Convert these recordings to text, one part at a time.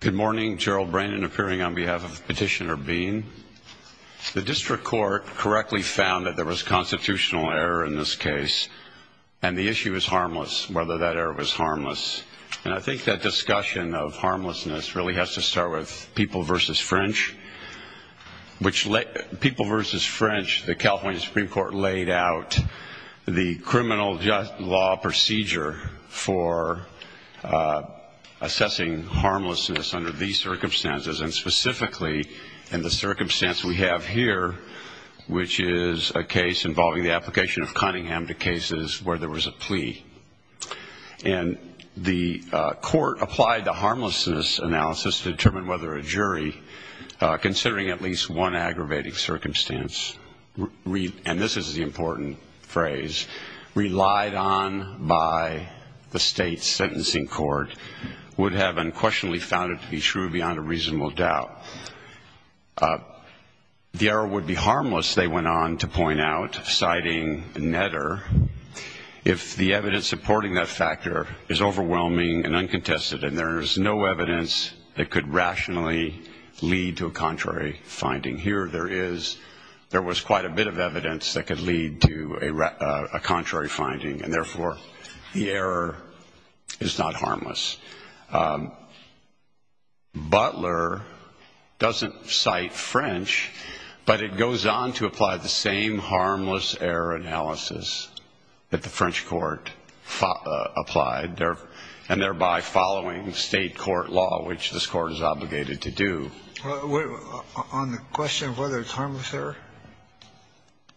Good morning, Gerald Brandon appearing on behalf of Petitioner Bean. The District Court correctly found that there was constitutional error in this case and the issue is harmless, whether that error was harmless. And I think that discussion of harmlessness really has to start with People v. French, which let People v. French, the California Supreme Court laid out the criminal law procedure for assessing harmlessness under these circumstances and specifically in the circumstance we have here, which is a case involving the application of Cunningham to cases where there was a plea. And the court applied the harmlessness analysis to determine whether a jury, considering at least one on by the state sentencing court, would have unquestionably found it to be true beyond a reasonable doubt. The error would be harmless, they went on to point out, citing Netter, if the evidence supporting that factor is overwhelming and uncontested and there is no evidence that could rationally lead to a contrary finding. Here there is, there was quite a bit of evidence that could lead to a contrary finding and therefore the error is not harmless. Butler doesn't cite French, but it goes on to apply the same harmless error analysis that the French Court applied and thereby following state court law, which this court is obligated to do. On the question of whether it's harmless error,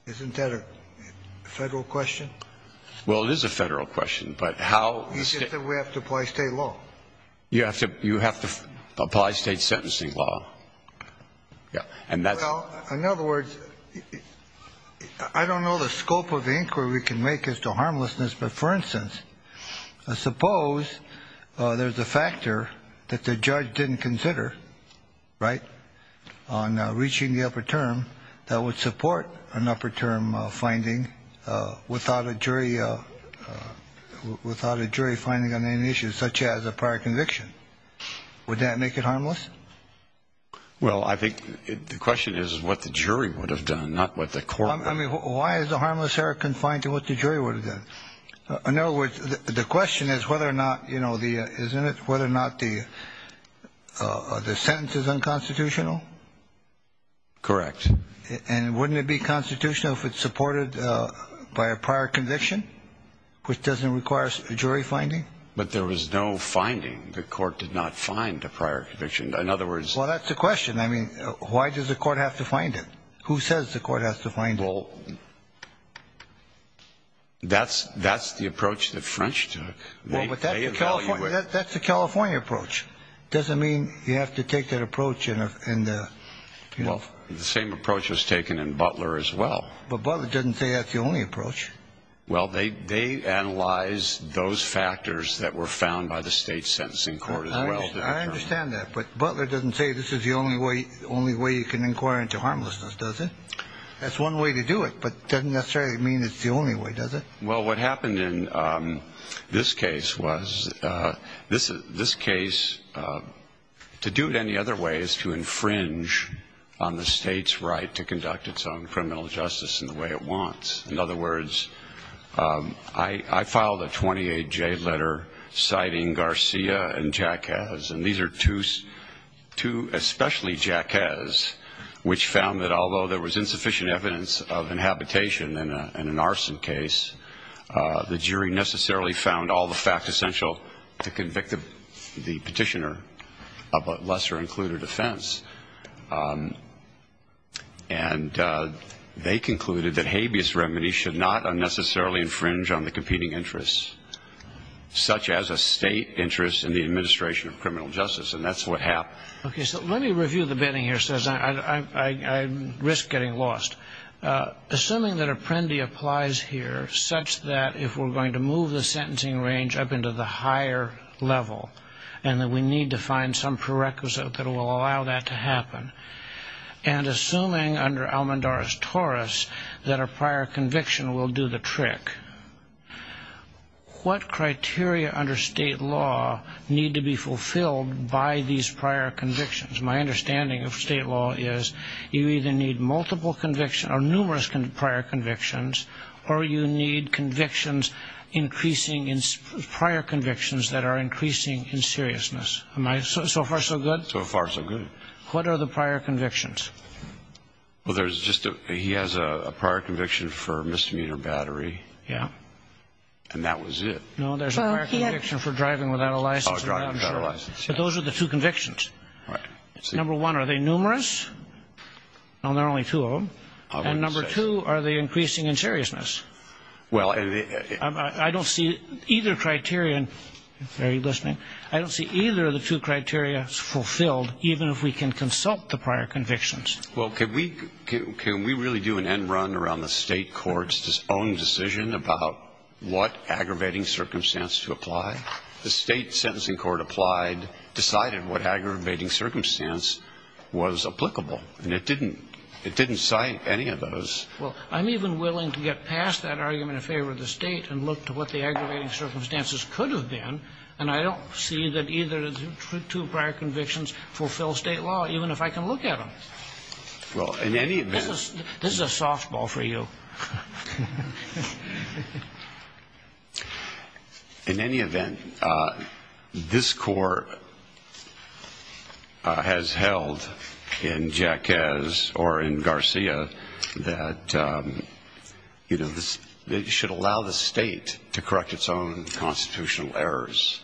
isn't that a Federal question? Well, it is a Federal question, but how You said that we have to apply state law. You have to apply state sentencing law. Well, in other words, I don't know the scope of the inquiry we can make as to harmlessness, but for instance, suppose there's a factor that the judge didn't consider, right, on reaching the upper term that would support an upper term finding without a jury, without a jury finding on any issues such as a prior conviction. Would that make it harmless? Well, I think the question is what the jury would have done, not what the court I mean, why is the harmless error confined to what the jury would have done? In other words, the question is whether or not, you know, the, isn't it, whether or not the, the sentence is unconstitutional? Correct. And wouldn't it be constitutional if it's supported by a prior conviction, which doesn't require a jury finding? But there was no finding. The court did not find a prior conviction. In other words, Well, that's the question. I mean, why does the court have to find it? Who says the court has to find it? Well, that's, that's the approach that French took. Well, but that's the California, that's the California approach. Doesn't mean you have to take that approach in a, in the, you know, the same approach was taken in Butler as well. But Butler doesn't say that's the only approach. Well, they, they analyze those factors that were found by the state sentencing court as well. I understand that. But Butler doesn't say this is the only way, the only way you can inquire into harmlessness, does it? That's one way to do it, but doesn't necessarily mean it's the only way, does it? Well, what happened in this case was this, this case to do it any other way is to violate the state's right to conduct its own criminal justice in the way it wants. In other words, I, I filed a 28-J letter citing Garcia and Jacquez. And these are two, two especially Jacquez, which found that although there was insufficient evidence of inhabitation in a, in an arson case the jury necessarily found all the facts essential to convict the, the petitioner of a lesser included offense. And they concluded that habeas remedy should not unnecessarily infringe on the competing interests, such as a state interest in the administration of criminal justice. And that's what happened. Okay, so let me review the bidding here, since I, I, I, I risk getting lost. Assuming that Apprendi applies here such that if we're going to move the sentencing range up into the higher level, and that we need to find some prerequisite that will allow that to happen. And assuming under Almendorra's torus that a prior conviction will do the trick, what criteria under state law need to be fulfilled by these prior convictions? My understanding of state law is you either need multiple conviction, or numerous prior convictions, or you need convictions increasing in, prior convictions that are increasing in seriousness. Am I so, so far so good? What are the prior convictions? Well, there's just a, he has a, a prior conviction for misdemeanor battery. Yeah. And that was it. No, there's a prior conviction for driving without a license. Oh, driving without a license, yeah. But those are the two convictions. Right. Number one, are they numerous? No, there are only two of them. And number two, are they increasing in seriousness? Well, and it, it, it, it, I, I, I don't see either criteria, are you listening? I don't see either of the two criteria fulfilled, even if we can consult the prior convictions. Well, can we, can, can we really do an end run around the state court's own decision about what aggravating circumstance to apply? The state sentencing court applied, decided what aggravating circumstance was applicable. And it didn't, it didn't cite any of those. Well, I'm even willing to get past that argument in favor of the state and look to what the aggravating circumstances could have been. And I don't see that either of the two prior convictions fulfills state law, even if I can look at them. Well, in any event. This is, this is a softball for you. In any event, this court has held in Jack Kez or in Garcia that, you know, this, it should allow the state to correct its own constitutional errors.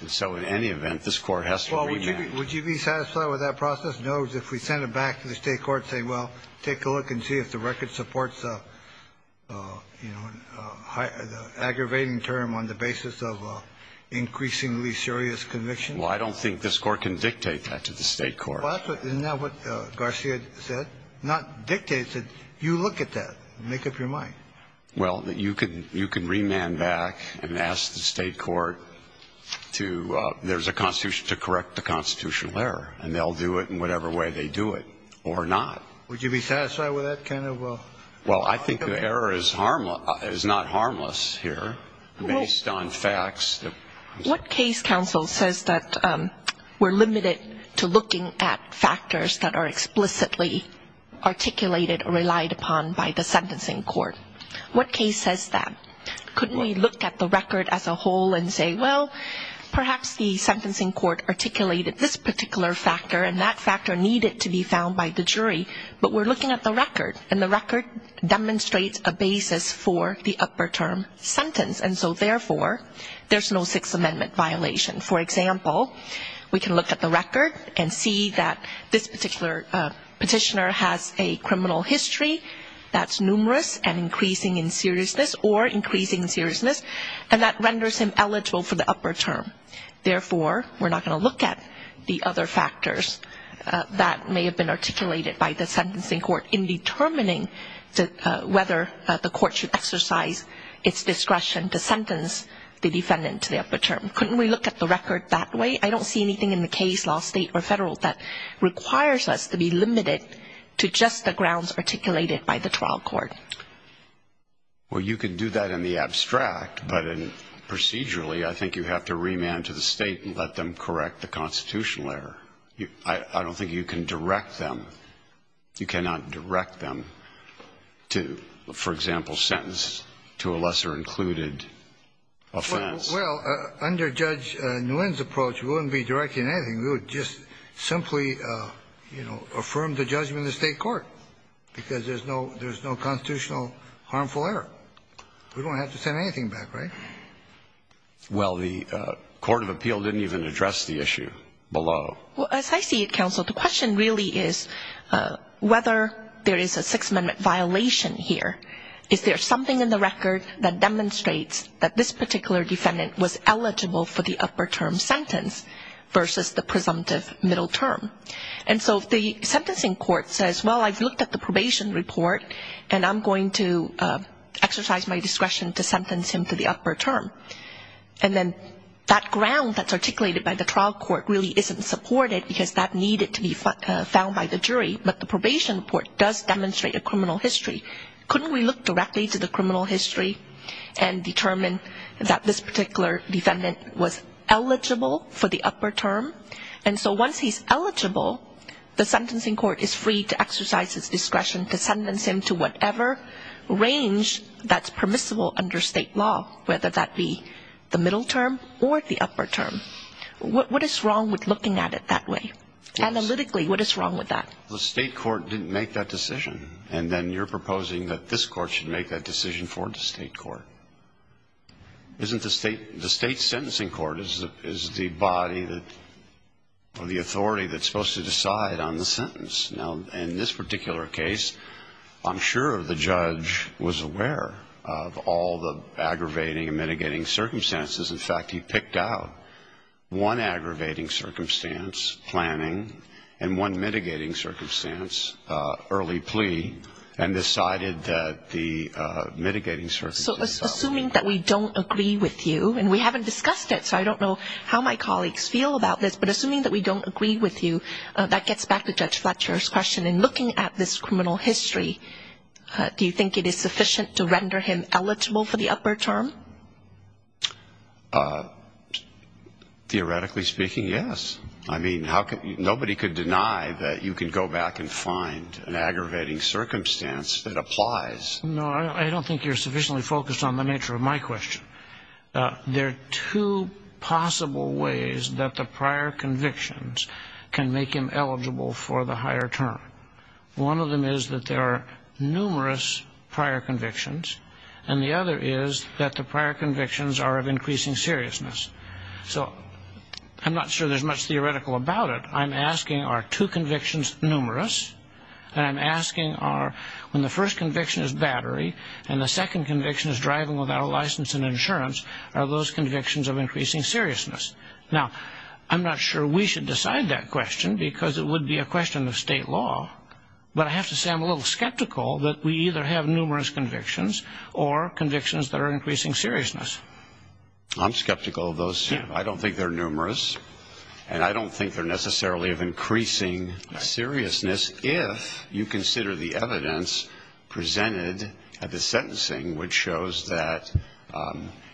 And so in any event, this court has to remand. Well, would you be, would you be satisfied with that process? In other words, if we send it back to the state court saying, well, take a look and see if the record supports the, you know, the aggravating term on the basis of increasingly serious conviction? Well, I don't think this court can dictate that to the state court. Well, that's what, isn't that what Garcia said? Not dictate, he said, you look at that, make up your mind. Well, that you could, you could remand back and ask the state court to, there's a constitution to correct the constitutional error. And they'll do it in whatever way they do it, or not. Would you be satisfied with that kind of? Well, I think the error is harmless, is not harmless here, based on facts. What case counsel says that we're limited to looking at factors that are explicitly articulated or relied upon by the sentencing court. What case says that? Couldn't we look at the record as a whole and say, well, perhaps the sentencing court articulated this particular factor, and that factor needed to be found by the jury. But we're looking at the record, and the record demonstrates a basis for the upper term sentence. And so therefore, there's no Sixth Amendment violation. For example, we can look at the record and see that this particular petitioner has a criminal history that's numerous and increasing in seriousness, or increasing in seriousness. And that renders him eligible for the upper term. Therefore, we're not going to look at the other factors that may have been articulated by the sentencing court in determining whether the court should exercise its discretion to sentence the defendant to the upper term. Couldn't we look at the record that way? I don't see anything in the case, law, state, or federal, that requires us to be limited to just the grounds articulated by the trial court. Well, you could do that in the abstract, but procedurally, I think you have to remand to the state and let them correct the constitutional error. I don't think you can direct them. You cannot direct them to, for example, sentence to a lesser included offense. Well, under Judge Nguyen's approach, we wouldn't be directing anything. We would just simply, you know, affirm the judgment in the state court, because there's no constitutional harmful error. We don't have to send anything back, right? Well, the court of appeal didn't even address the issue below. Well, as I see it, counsel, the question really is whether there is a Sixth Amendment violation here. Is there something in the record that demonstrates that this particular defendant was eligible for the upper term sentence versus the presumptive middle term? And so the sentencing court says, well, I've looked at the probation report, and I'm going to exercise my discretion to sentence him to the upper term. And then that ground that's articulated by the trial court really isn't supported, because that needed to be found by the jury. But the probation report does demonstrate a criminal history. Couldn't we look directly to the criminal history and determine that this particular defendant was eligible for the upper term? And so once he's eligible, the sentencing court is free to exercise his discretion to sentence him to whatever range that's permissible under state law, whether that be the middle term or the upper term. What is wrong with looking at it that way? Analytically, what is wrong with that? The state court didn't make that decision, and then you're proposing that this court should make that decision for the state court. Isn't the state, the state sentencing court is the body that, or the authority that's supposed to decide on the sentence. Now, in this particular case, I'm sure the judge was aware of all the aggravating and mitigating circumstances. In fact, he picked out one aggravating circumstance, planning, and one mitigating circumstance, early plea, and decided that the mitigating circumstances- So assuming that we don't agree with you, and we haven't discussed it, so I don't know how my colleagues feel about this, but assuming that we don't agree with you, that gets back to Judge Fletcher's question, in looking at this criminal history, do you think it is sufficient to render him eligible for the upper term? Theoretically speaking, yes. I mean, nobody could deny that you could go back and find an aggravating circumstance that applies. No, I don't think you're sufficiently focused on the nature of my question. There are two possible ways that the prior convictions can make him eligible for the higher term. One of them is that there are numerous prior convictions, and the other is that the prior convictions are of increasing seriousness. So, I'm not sure there's much theoretical about it. I'm asking, are two convictions numerous? And I'm asking, are, when the first conviction is battery, and the second conviction is driving without a license and insurance, are those convictions of increasing seriousness? Now, I'm not sure we should decide that question, because it would be a question of state law. But I have to say, I'm a little skeptical that we either have numerous convictions, or convictions that are increasing seriousness. I'm skeptical of those two. I don't think they're numerous. And I don't think they're necessarily of increasing seriousness if you consider the evidence presented at the sentencing which shows that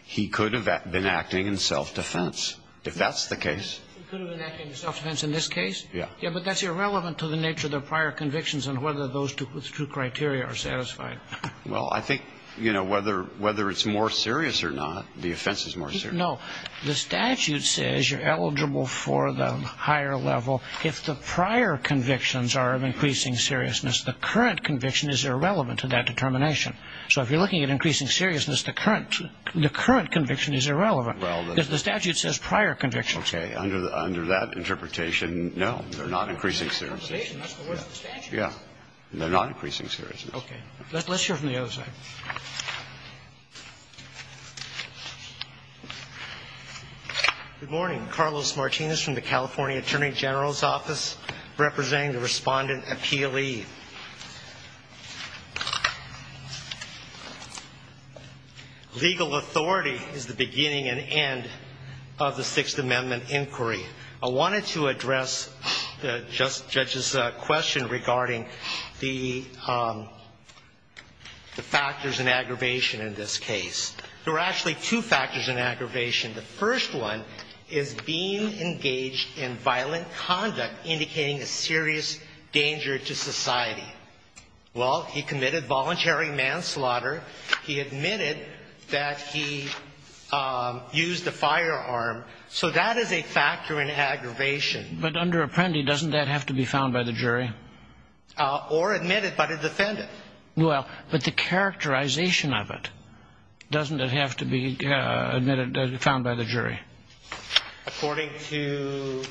he could have been acting in self-defense, if that's the case. He could have been acting in self-defense in this case? Yeah. Yeah, but that's irrelevant to the nature of the prior convictions and whether those two criteria are satisfied. Well, I think, whether it's more serious or not, the offense is more serious. No, the statute says you're eligible for the higher level. If the prior convictions are of increasing seriousness, the current conviction is irrelevant to that determination. So if you're looking at increasing seriousness, the current conviction is irrelevant, because the statute says prior convictions. Okay, under that interpretation, no, they're not increasing seriousness. They're not increasing seriousness, but what's the statute? Yeah, they're not increasing seriousness. Okay, let's hear from the other side. Good morning, Carlos Martinez from the California Attorney General's Office, representing the Respondent Appealee. Legal authority is the beginning and end of the Sixth Amendment Inquiry. I wanted to address the judge's question regarding the factors in aggravation in this case. There are actually two factors in aggravation. The first one is being engaged in violent conduct, indicating a serious danger to society. Well, he committed voluntary manslaughter. He admitted that he used a firearm. So that is a factor in aggravation. But under Apprendi, doesn't that have to be found by the jury? Or admitted by the defendant. Well, but the characterization of it, doesn't it have to be found by the jury? According to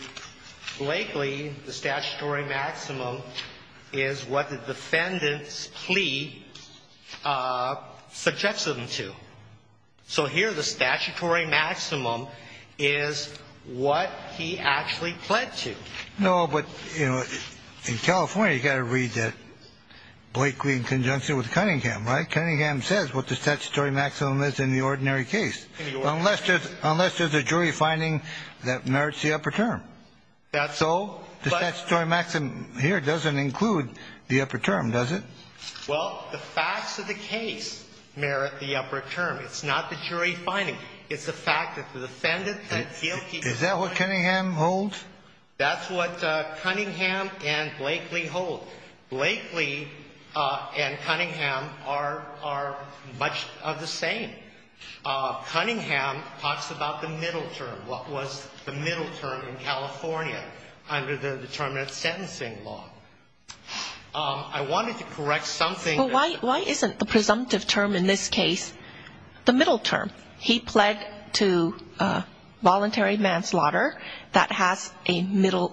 Blakely, the statutory maximum is what the defendant's plea suggests them to. So here, the statutory maximum is what he actually pled to. No, but in California, you gotta read that Blakely in conjunction with Cunningham, right, Cunningham says what the statutory maximum is in the ordinary case. Unless there's a jury finding that merits the upper term. So the statutory maximum here doesn't include the upper term, does it? Well, the facts of the case merit the upper term. It's not the jury finding. It's the fact that the defendant had guilty. Is that what Cunningham holds? That's what Cunningham and Blakely hold. Blakely and Cunningham are much of the same. Cunningham talks about the middle term, what was the middle term in California under the determinate sentencing law. I wanted to correct something. Well, why isn't the presumptive term in this case the middle term? He pled to voluntary manslaughter. That has a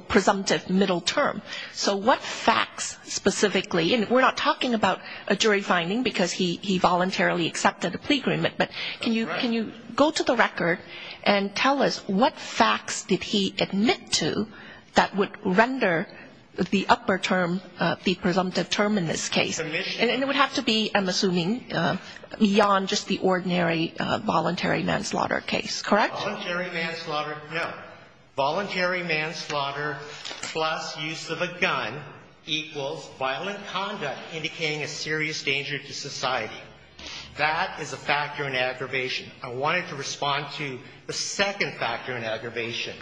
presumptive middle term. So what facts specifically, and we're not talking about a jury finding, because he voluntarily accepted a plea agreement. But can you go to the record and tell us what facts did he admit to that would render the upper term the presumptive term in this case? And it would have to be, I'm assuming, beyond just the ordinary voluntary manslaughter case, correct? Voluntary manslaughter, no. Voluntary manslaughter plus use of a gun equals violent conduct indicating a serious danger to society. That is a factor in aggravation. I wanted to respond to the second factor in aggravation.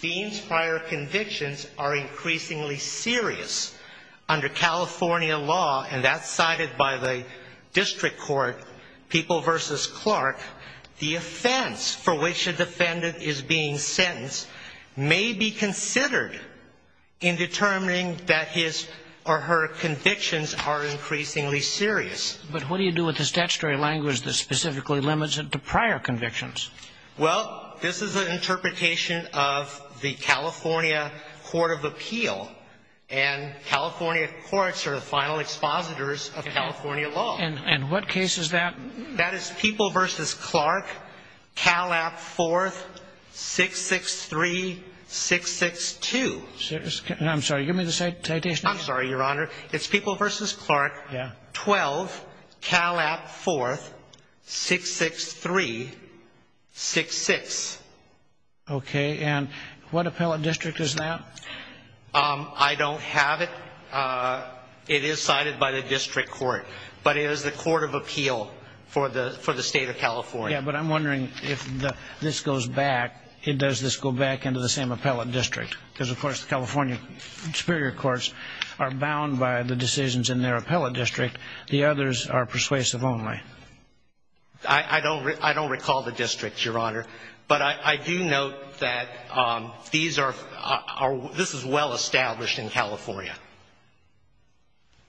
Dean's prior convictions are increasingly serious. Under California law, and that's cited by the district court, People v. Clark, the offense for which a defendant is being sentenced may be considered in determining that his or her convictions are increasingly serious. But what do you do with the statutory language that specifically limits it to prior convictions? Well, this is an interpretation of the California Court of Appeal, and California courts are the final expositors of California law. And what case is that? That is People v. Clark, CALAP 4th, 663-662. I'm sorry, give me the citation. I'm sorry, Your Honor. It's People v. Clark, 12, CALAP 4th, 663-66. OK, and what appellate district is that? I don't have it. It is cited by the district court, but it is the Court of Appeal for the state of California. Yeah, but I'm wondering if this goes back, does this go back into the same appellate district? Because, of course, the California superior courts are bound by the decisions in their appellate district. The others are persuasive only. I don't recall the district, Your Honor. But I do note that this is well-established in California.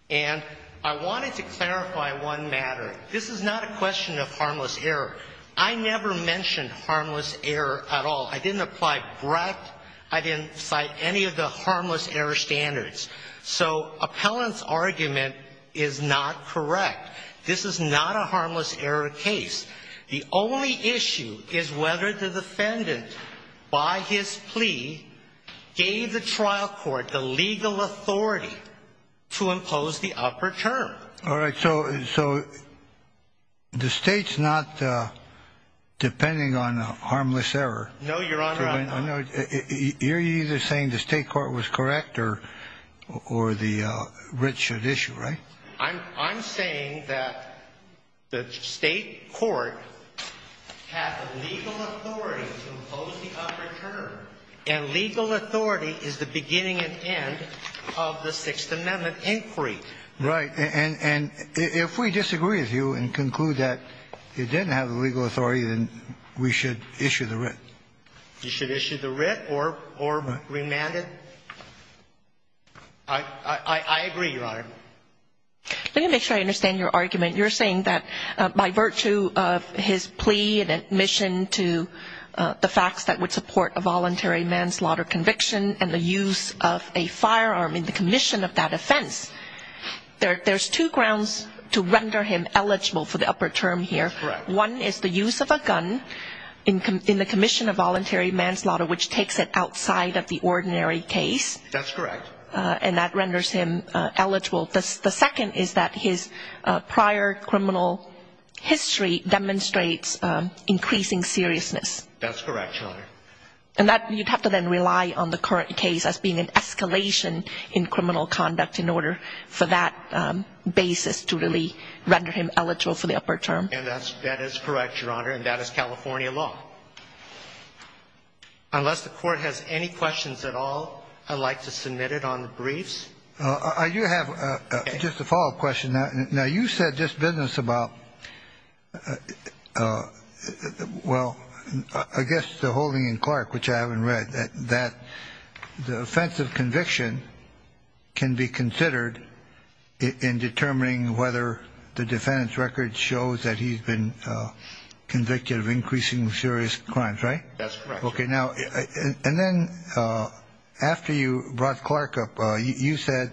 And I wanted to clarify one matter. This is not a question of harmless error. I never mentioned harmless error at all. I didn't apply breadth. I didn't cite any of the harmless error standards. So appellant's argument is not correct. This is not a harmless error case. The only issue is whether the defendant, by his plea, gave the trial court the legal authority to impose the upper term. All right, so the state's not depending on harmless error. No, Your Honor, I'm not. You're either saying the state court was correct or the writ should issue, right? I'm saying that the state court had the legal authority to impose the upper term. And legal authority is the beginning and end of the Sixth Amendment inquiry. Right, and if we disagree with you and conclude that it didn't have the legal authority, then we should issue the writ. You should issue the writ or remand it? I agree, Your Honor. Let me make sure I understand your argument. You're saying that by virtue of his plea and admission to the facts that would support a voluntary manslaughter conviction and the use of a firearm in the commission of that offense, there's two grounds to render him eligible for the upper term here. One is the use of a gun in the commission of voluntary manslaughter, which takes it outside of the ordinary case. And that renders him eligible. The second is that his prior criminal history demonstrates increasing seriousness. And you'd have to then rely on the current case as being an escalation in criminal conduct in order for that basis to really render him eligible for the upper term. And that is correct, Your Honor. And that is California law. Unless the court has any questions at all, I'd like to submit it on the briefs. You have just a follow-up question. Now, you said just business about, well, I guess the holding in Clark, which I haven't read, that the offense of conviction can be considered in determining whether the defendant's been convicted of increasingly serious crimes, right? That's correct. OK, now, and then after you brought Clark up, you said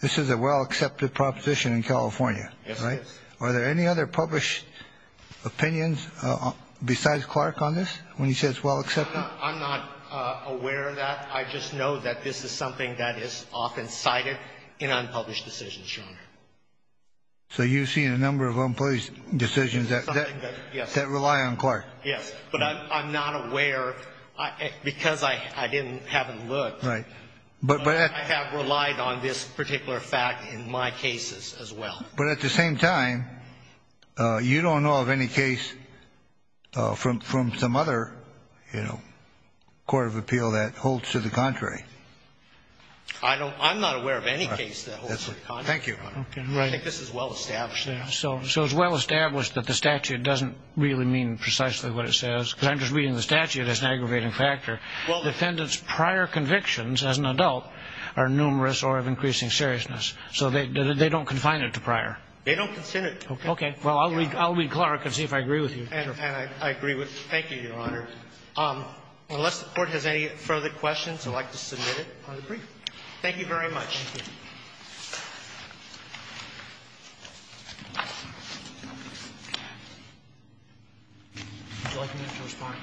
this is a well-accepted proposition in California, right? Yes, it is. Are there any other published opinions besides Clark on this when he says well-accepted? I'm not aware of that. I just know that this is something that is often cited in unpublished decisions, Your Honor. So you've seen a number of unpublished decisions that rely on Clark. Yes, but I'm not aware because I haven't looked. But I have relied on this particular fact in my cases as well. But at the same time, you don't know of any case from some other court of appeal that holds to the contrary. I'm not aware of any case that holds to the contrary. Thank you, Your Honor. I think this is well-established now. So it's well-established that the statute doesn't really mean precisely what it says, because I'm just reading the statute as an aggravating factor. Defendant's prior convictions as an adult are numerous or of increasing seriousness. So they don't confine it to prior. They don't consider it. OK, well, I'll read Clark and see if I agree with you. And I agree with you. Thank you, Your Honor. Unless the court has any further questions, I'd like to submit it on the brief. Thank you very much. Thank you. Would you like me to respond?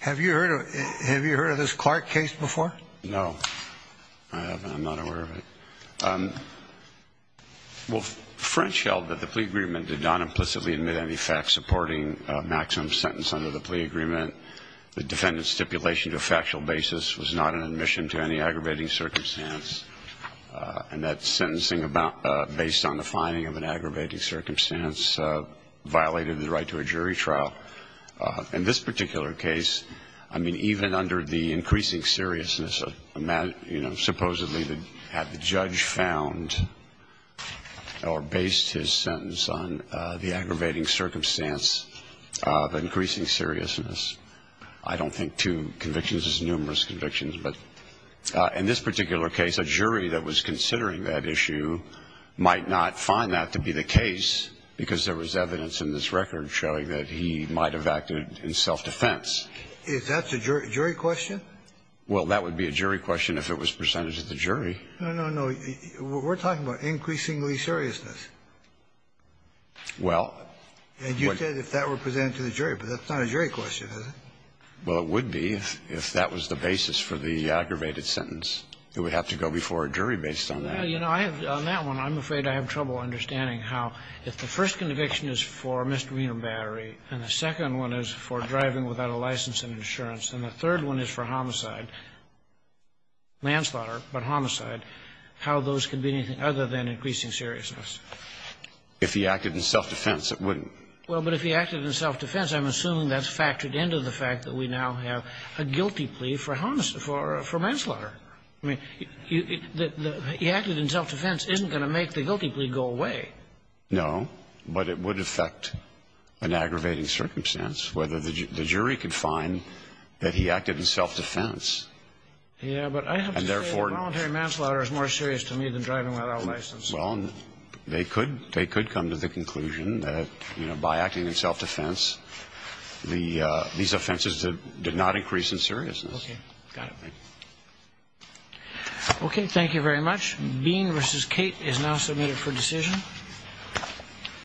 Have you heard of this Clark case before? No, I'm not aware of it. Well, French held that the plea agreement did not implicitly admit any facts supporting a maximum sentence under the plea agreement. The defendant's stipulation to a factual basis was not an admission to any aggravating circumstance. And that sentencing based on the finding of an aggravating circumstance violated the right to a jury trial. In this particular case, I mean, even under the increasing seriousness, supposedly had the judge found or based his sentence on the aggravating circumstance of increasing seriousness. I don't think two convictions is numerous convictions. But in this particular case, a jury that was considering that issue might not find that to be the case, because there was evidence in this record showing that he might have acted in self-defense. Is that a jury question? Well, that would be a jury question if it was presented to the jury. No, no, no. We're talking about increasingly seriousness. Well, what you said, if that were presented to the jury. But that's not a jury question, is it? Well, it would be if that was the basis for the aggravated sentence. It would have to go before a jury based on that. Well, you know, on that one, I'm afraid I have trouble understanding how, if the first conviction is for misdemeanor battery, and the second one is for driving without a license and insurance, and the third one is for homicide, manslaughter but homicide, how those can be anything other than increasing seriousness. If he acted in self-defense, it wouldn't. Well, but if he acted in self-defense, I'm assuming that's factored into the fact that we now have a guilty plea for manslaughter. I mean, he acted in self-defense isn't going to make the guilty plea go away. No, but it would affect an aggravating circumstance, whether the jury could find that he acted in self-defense. Yeah, but I have to say, a voluntary manslaughter is more serious to me than driving without a license. Well, they could come to the conclusion that, you know, by acting in self-defense, these offenses did not increase in seriousness. OK. Got it. OK, thank you very much. Bean v. Kate is now submitted for decision.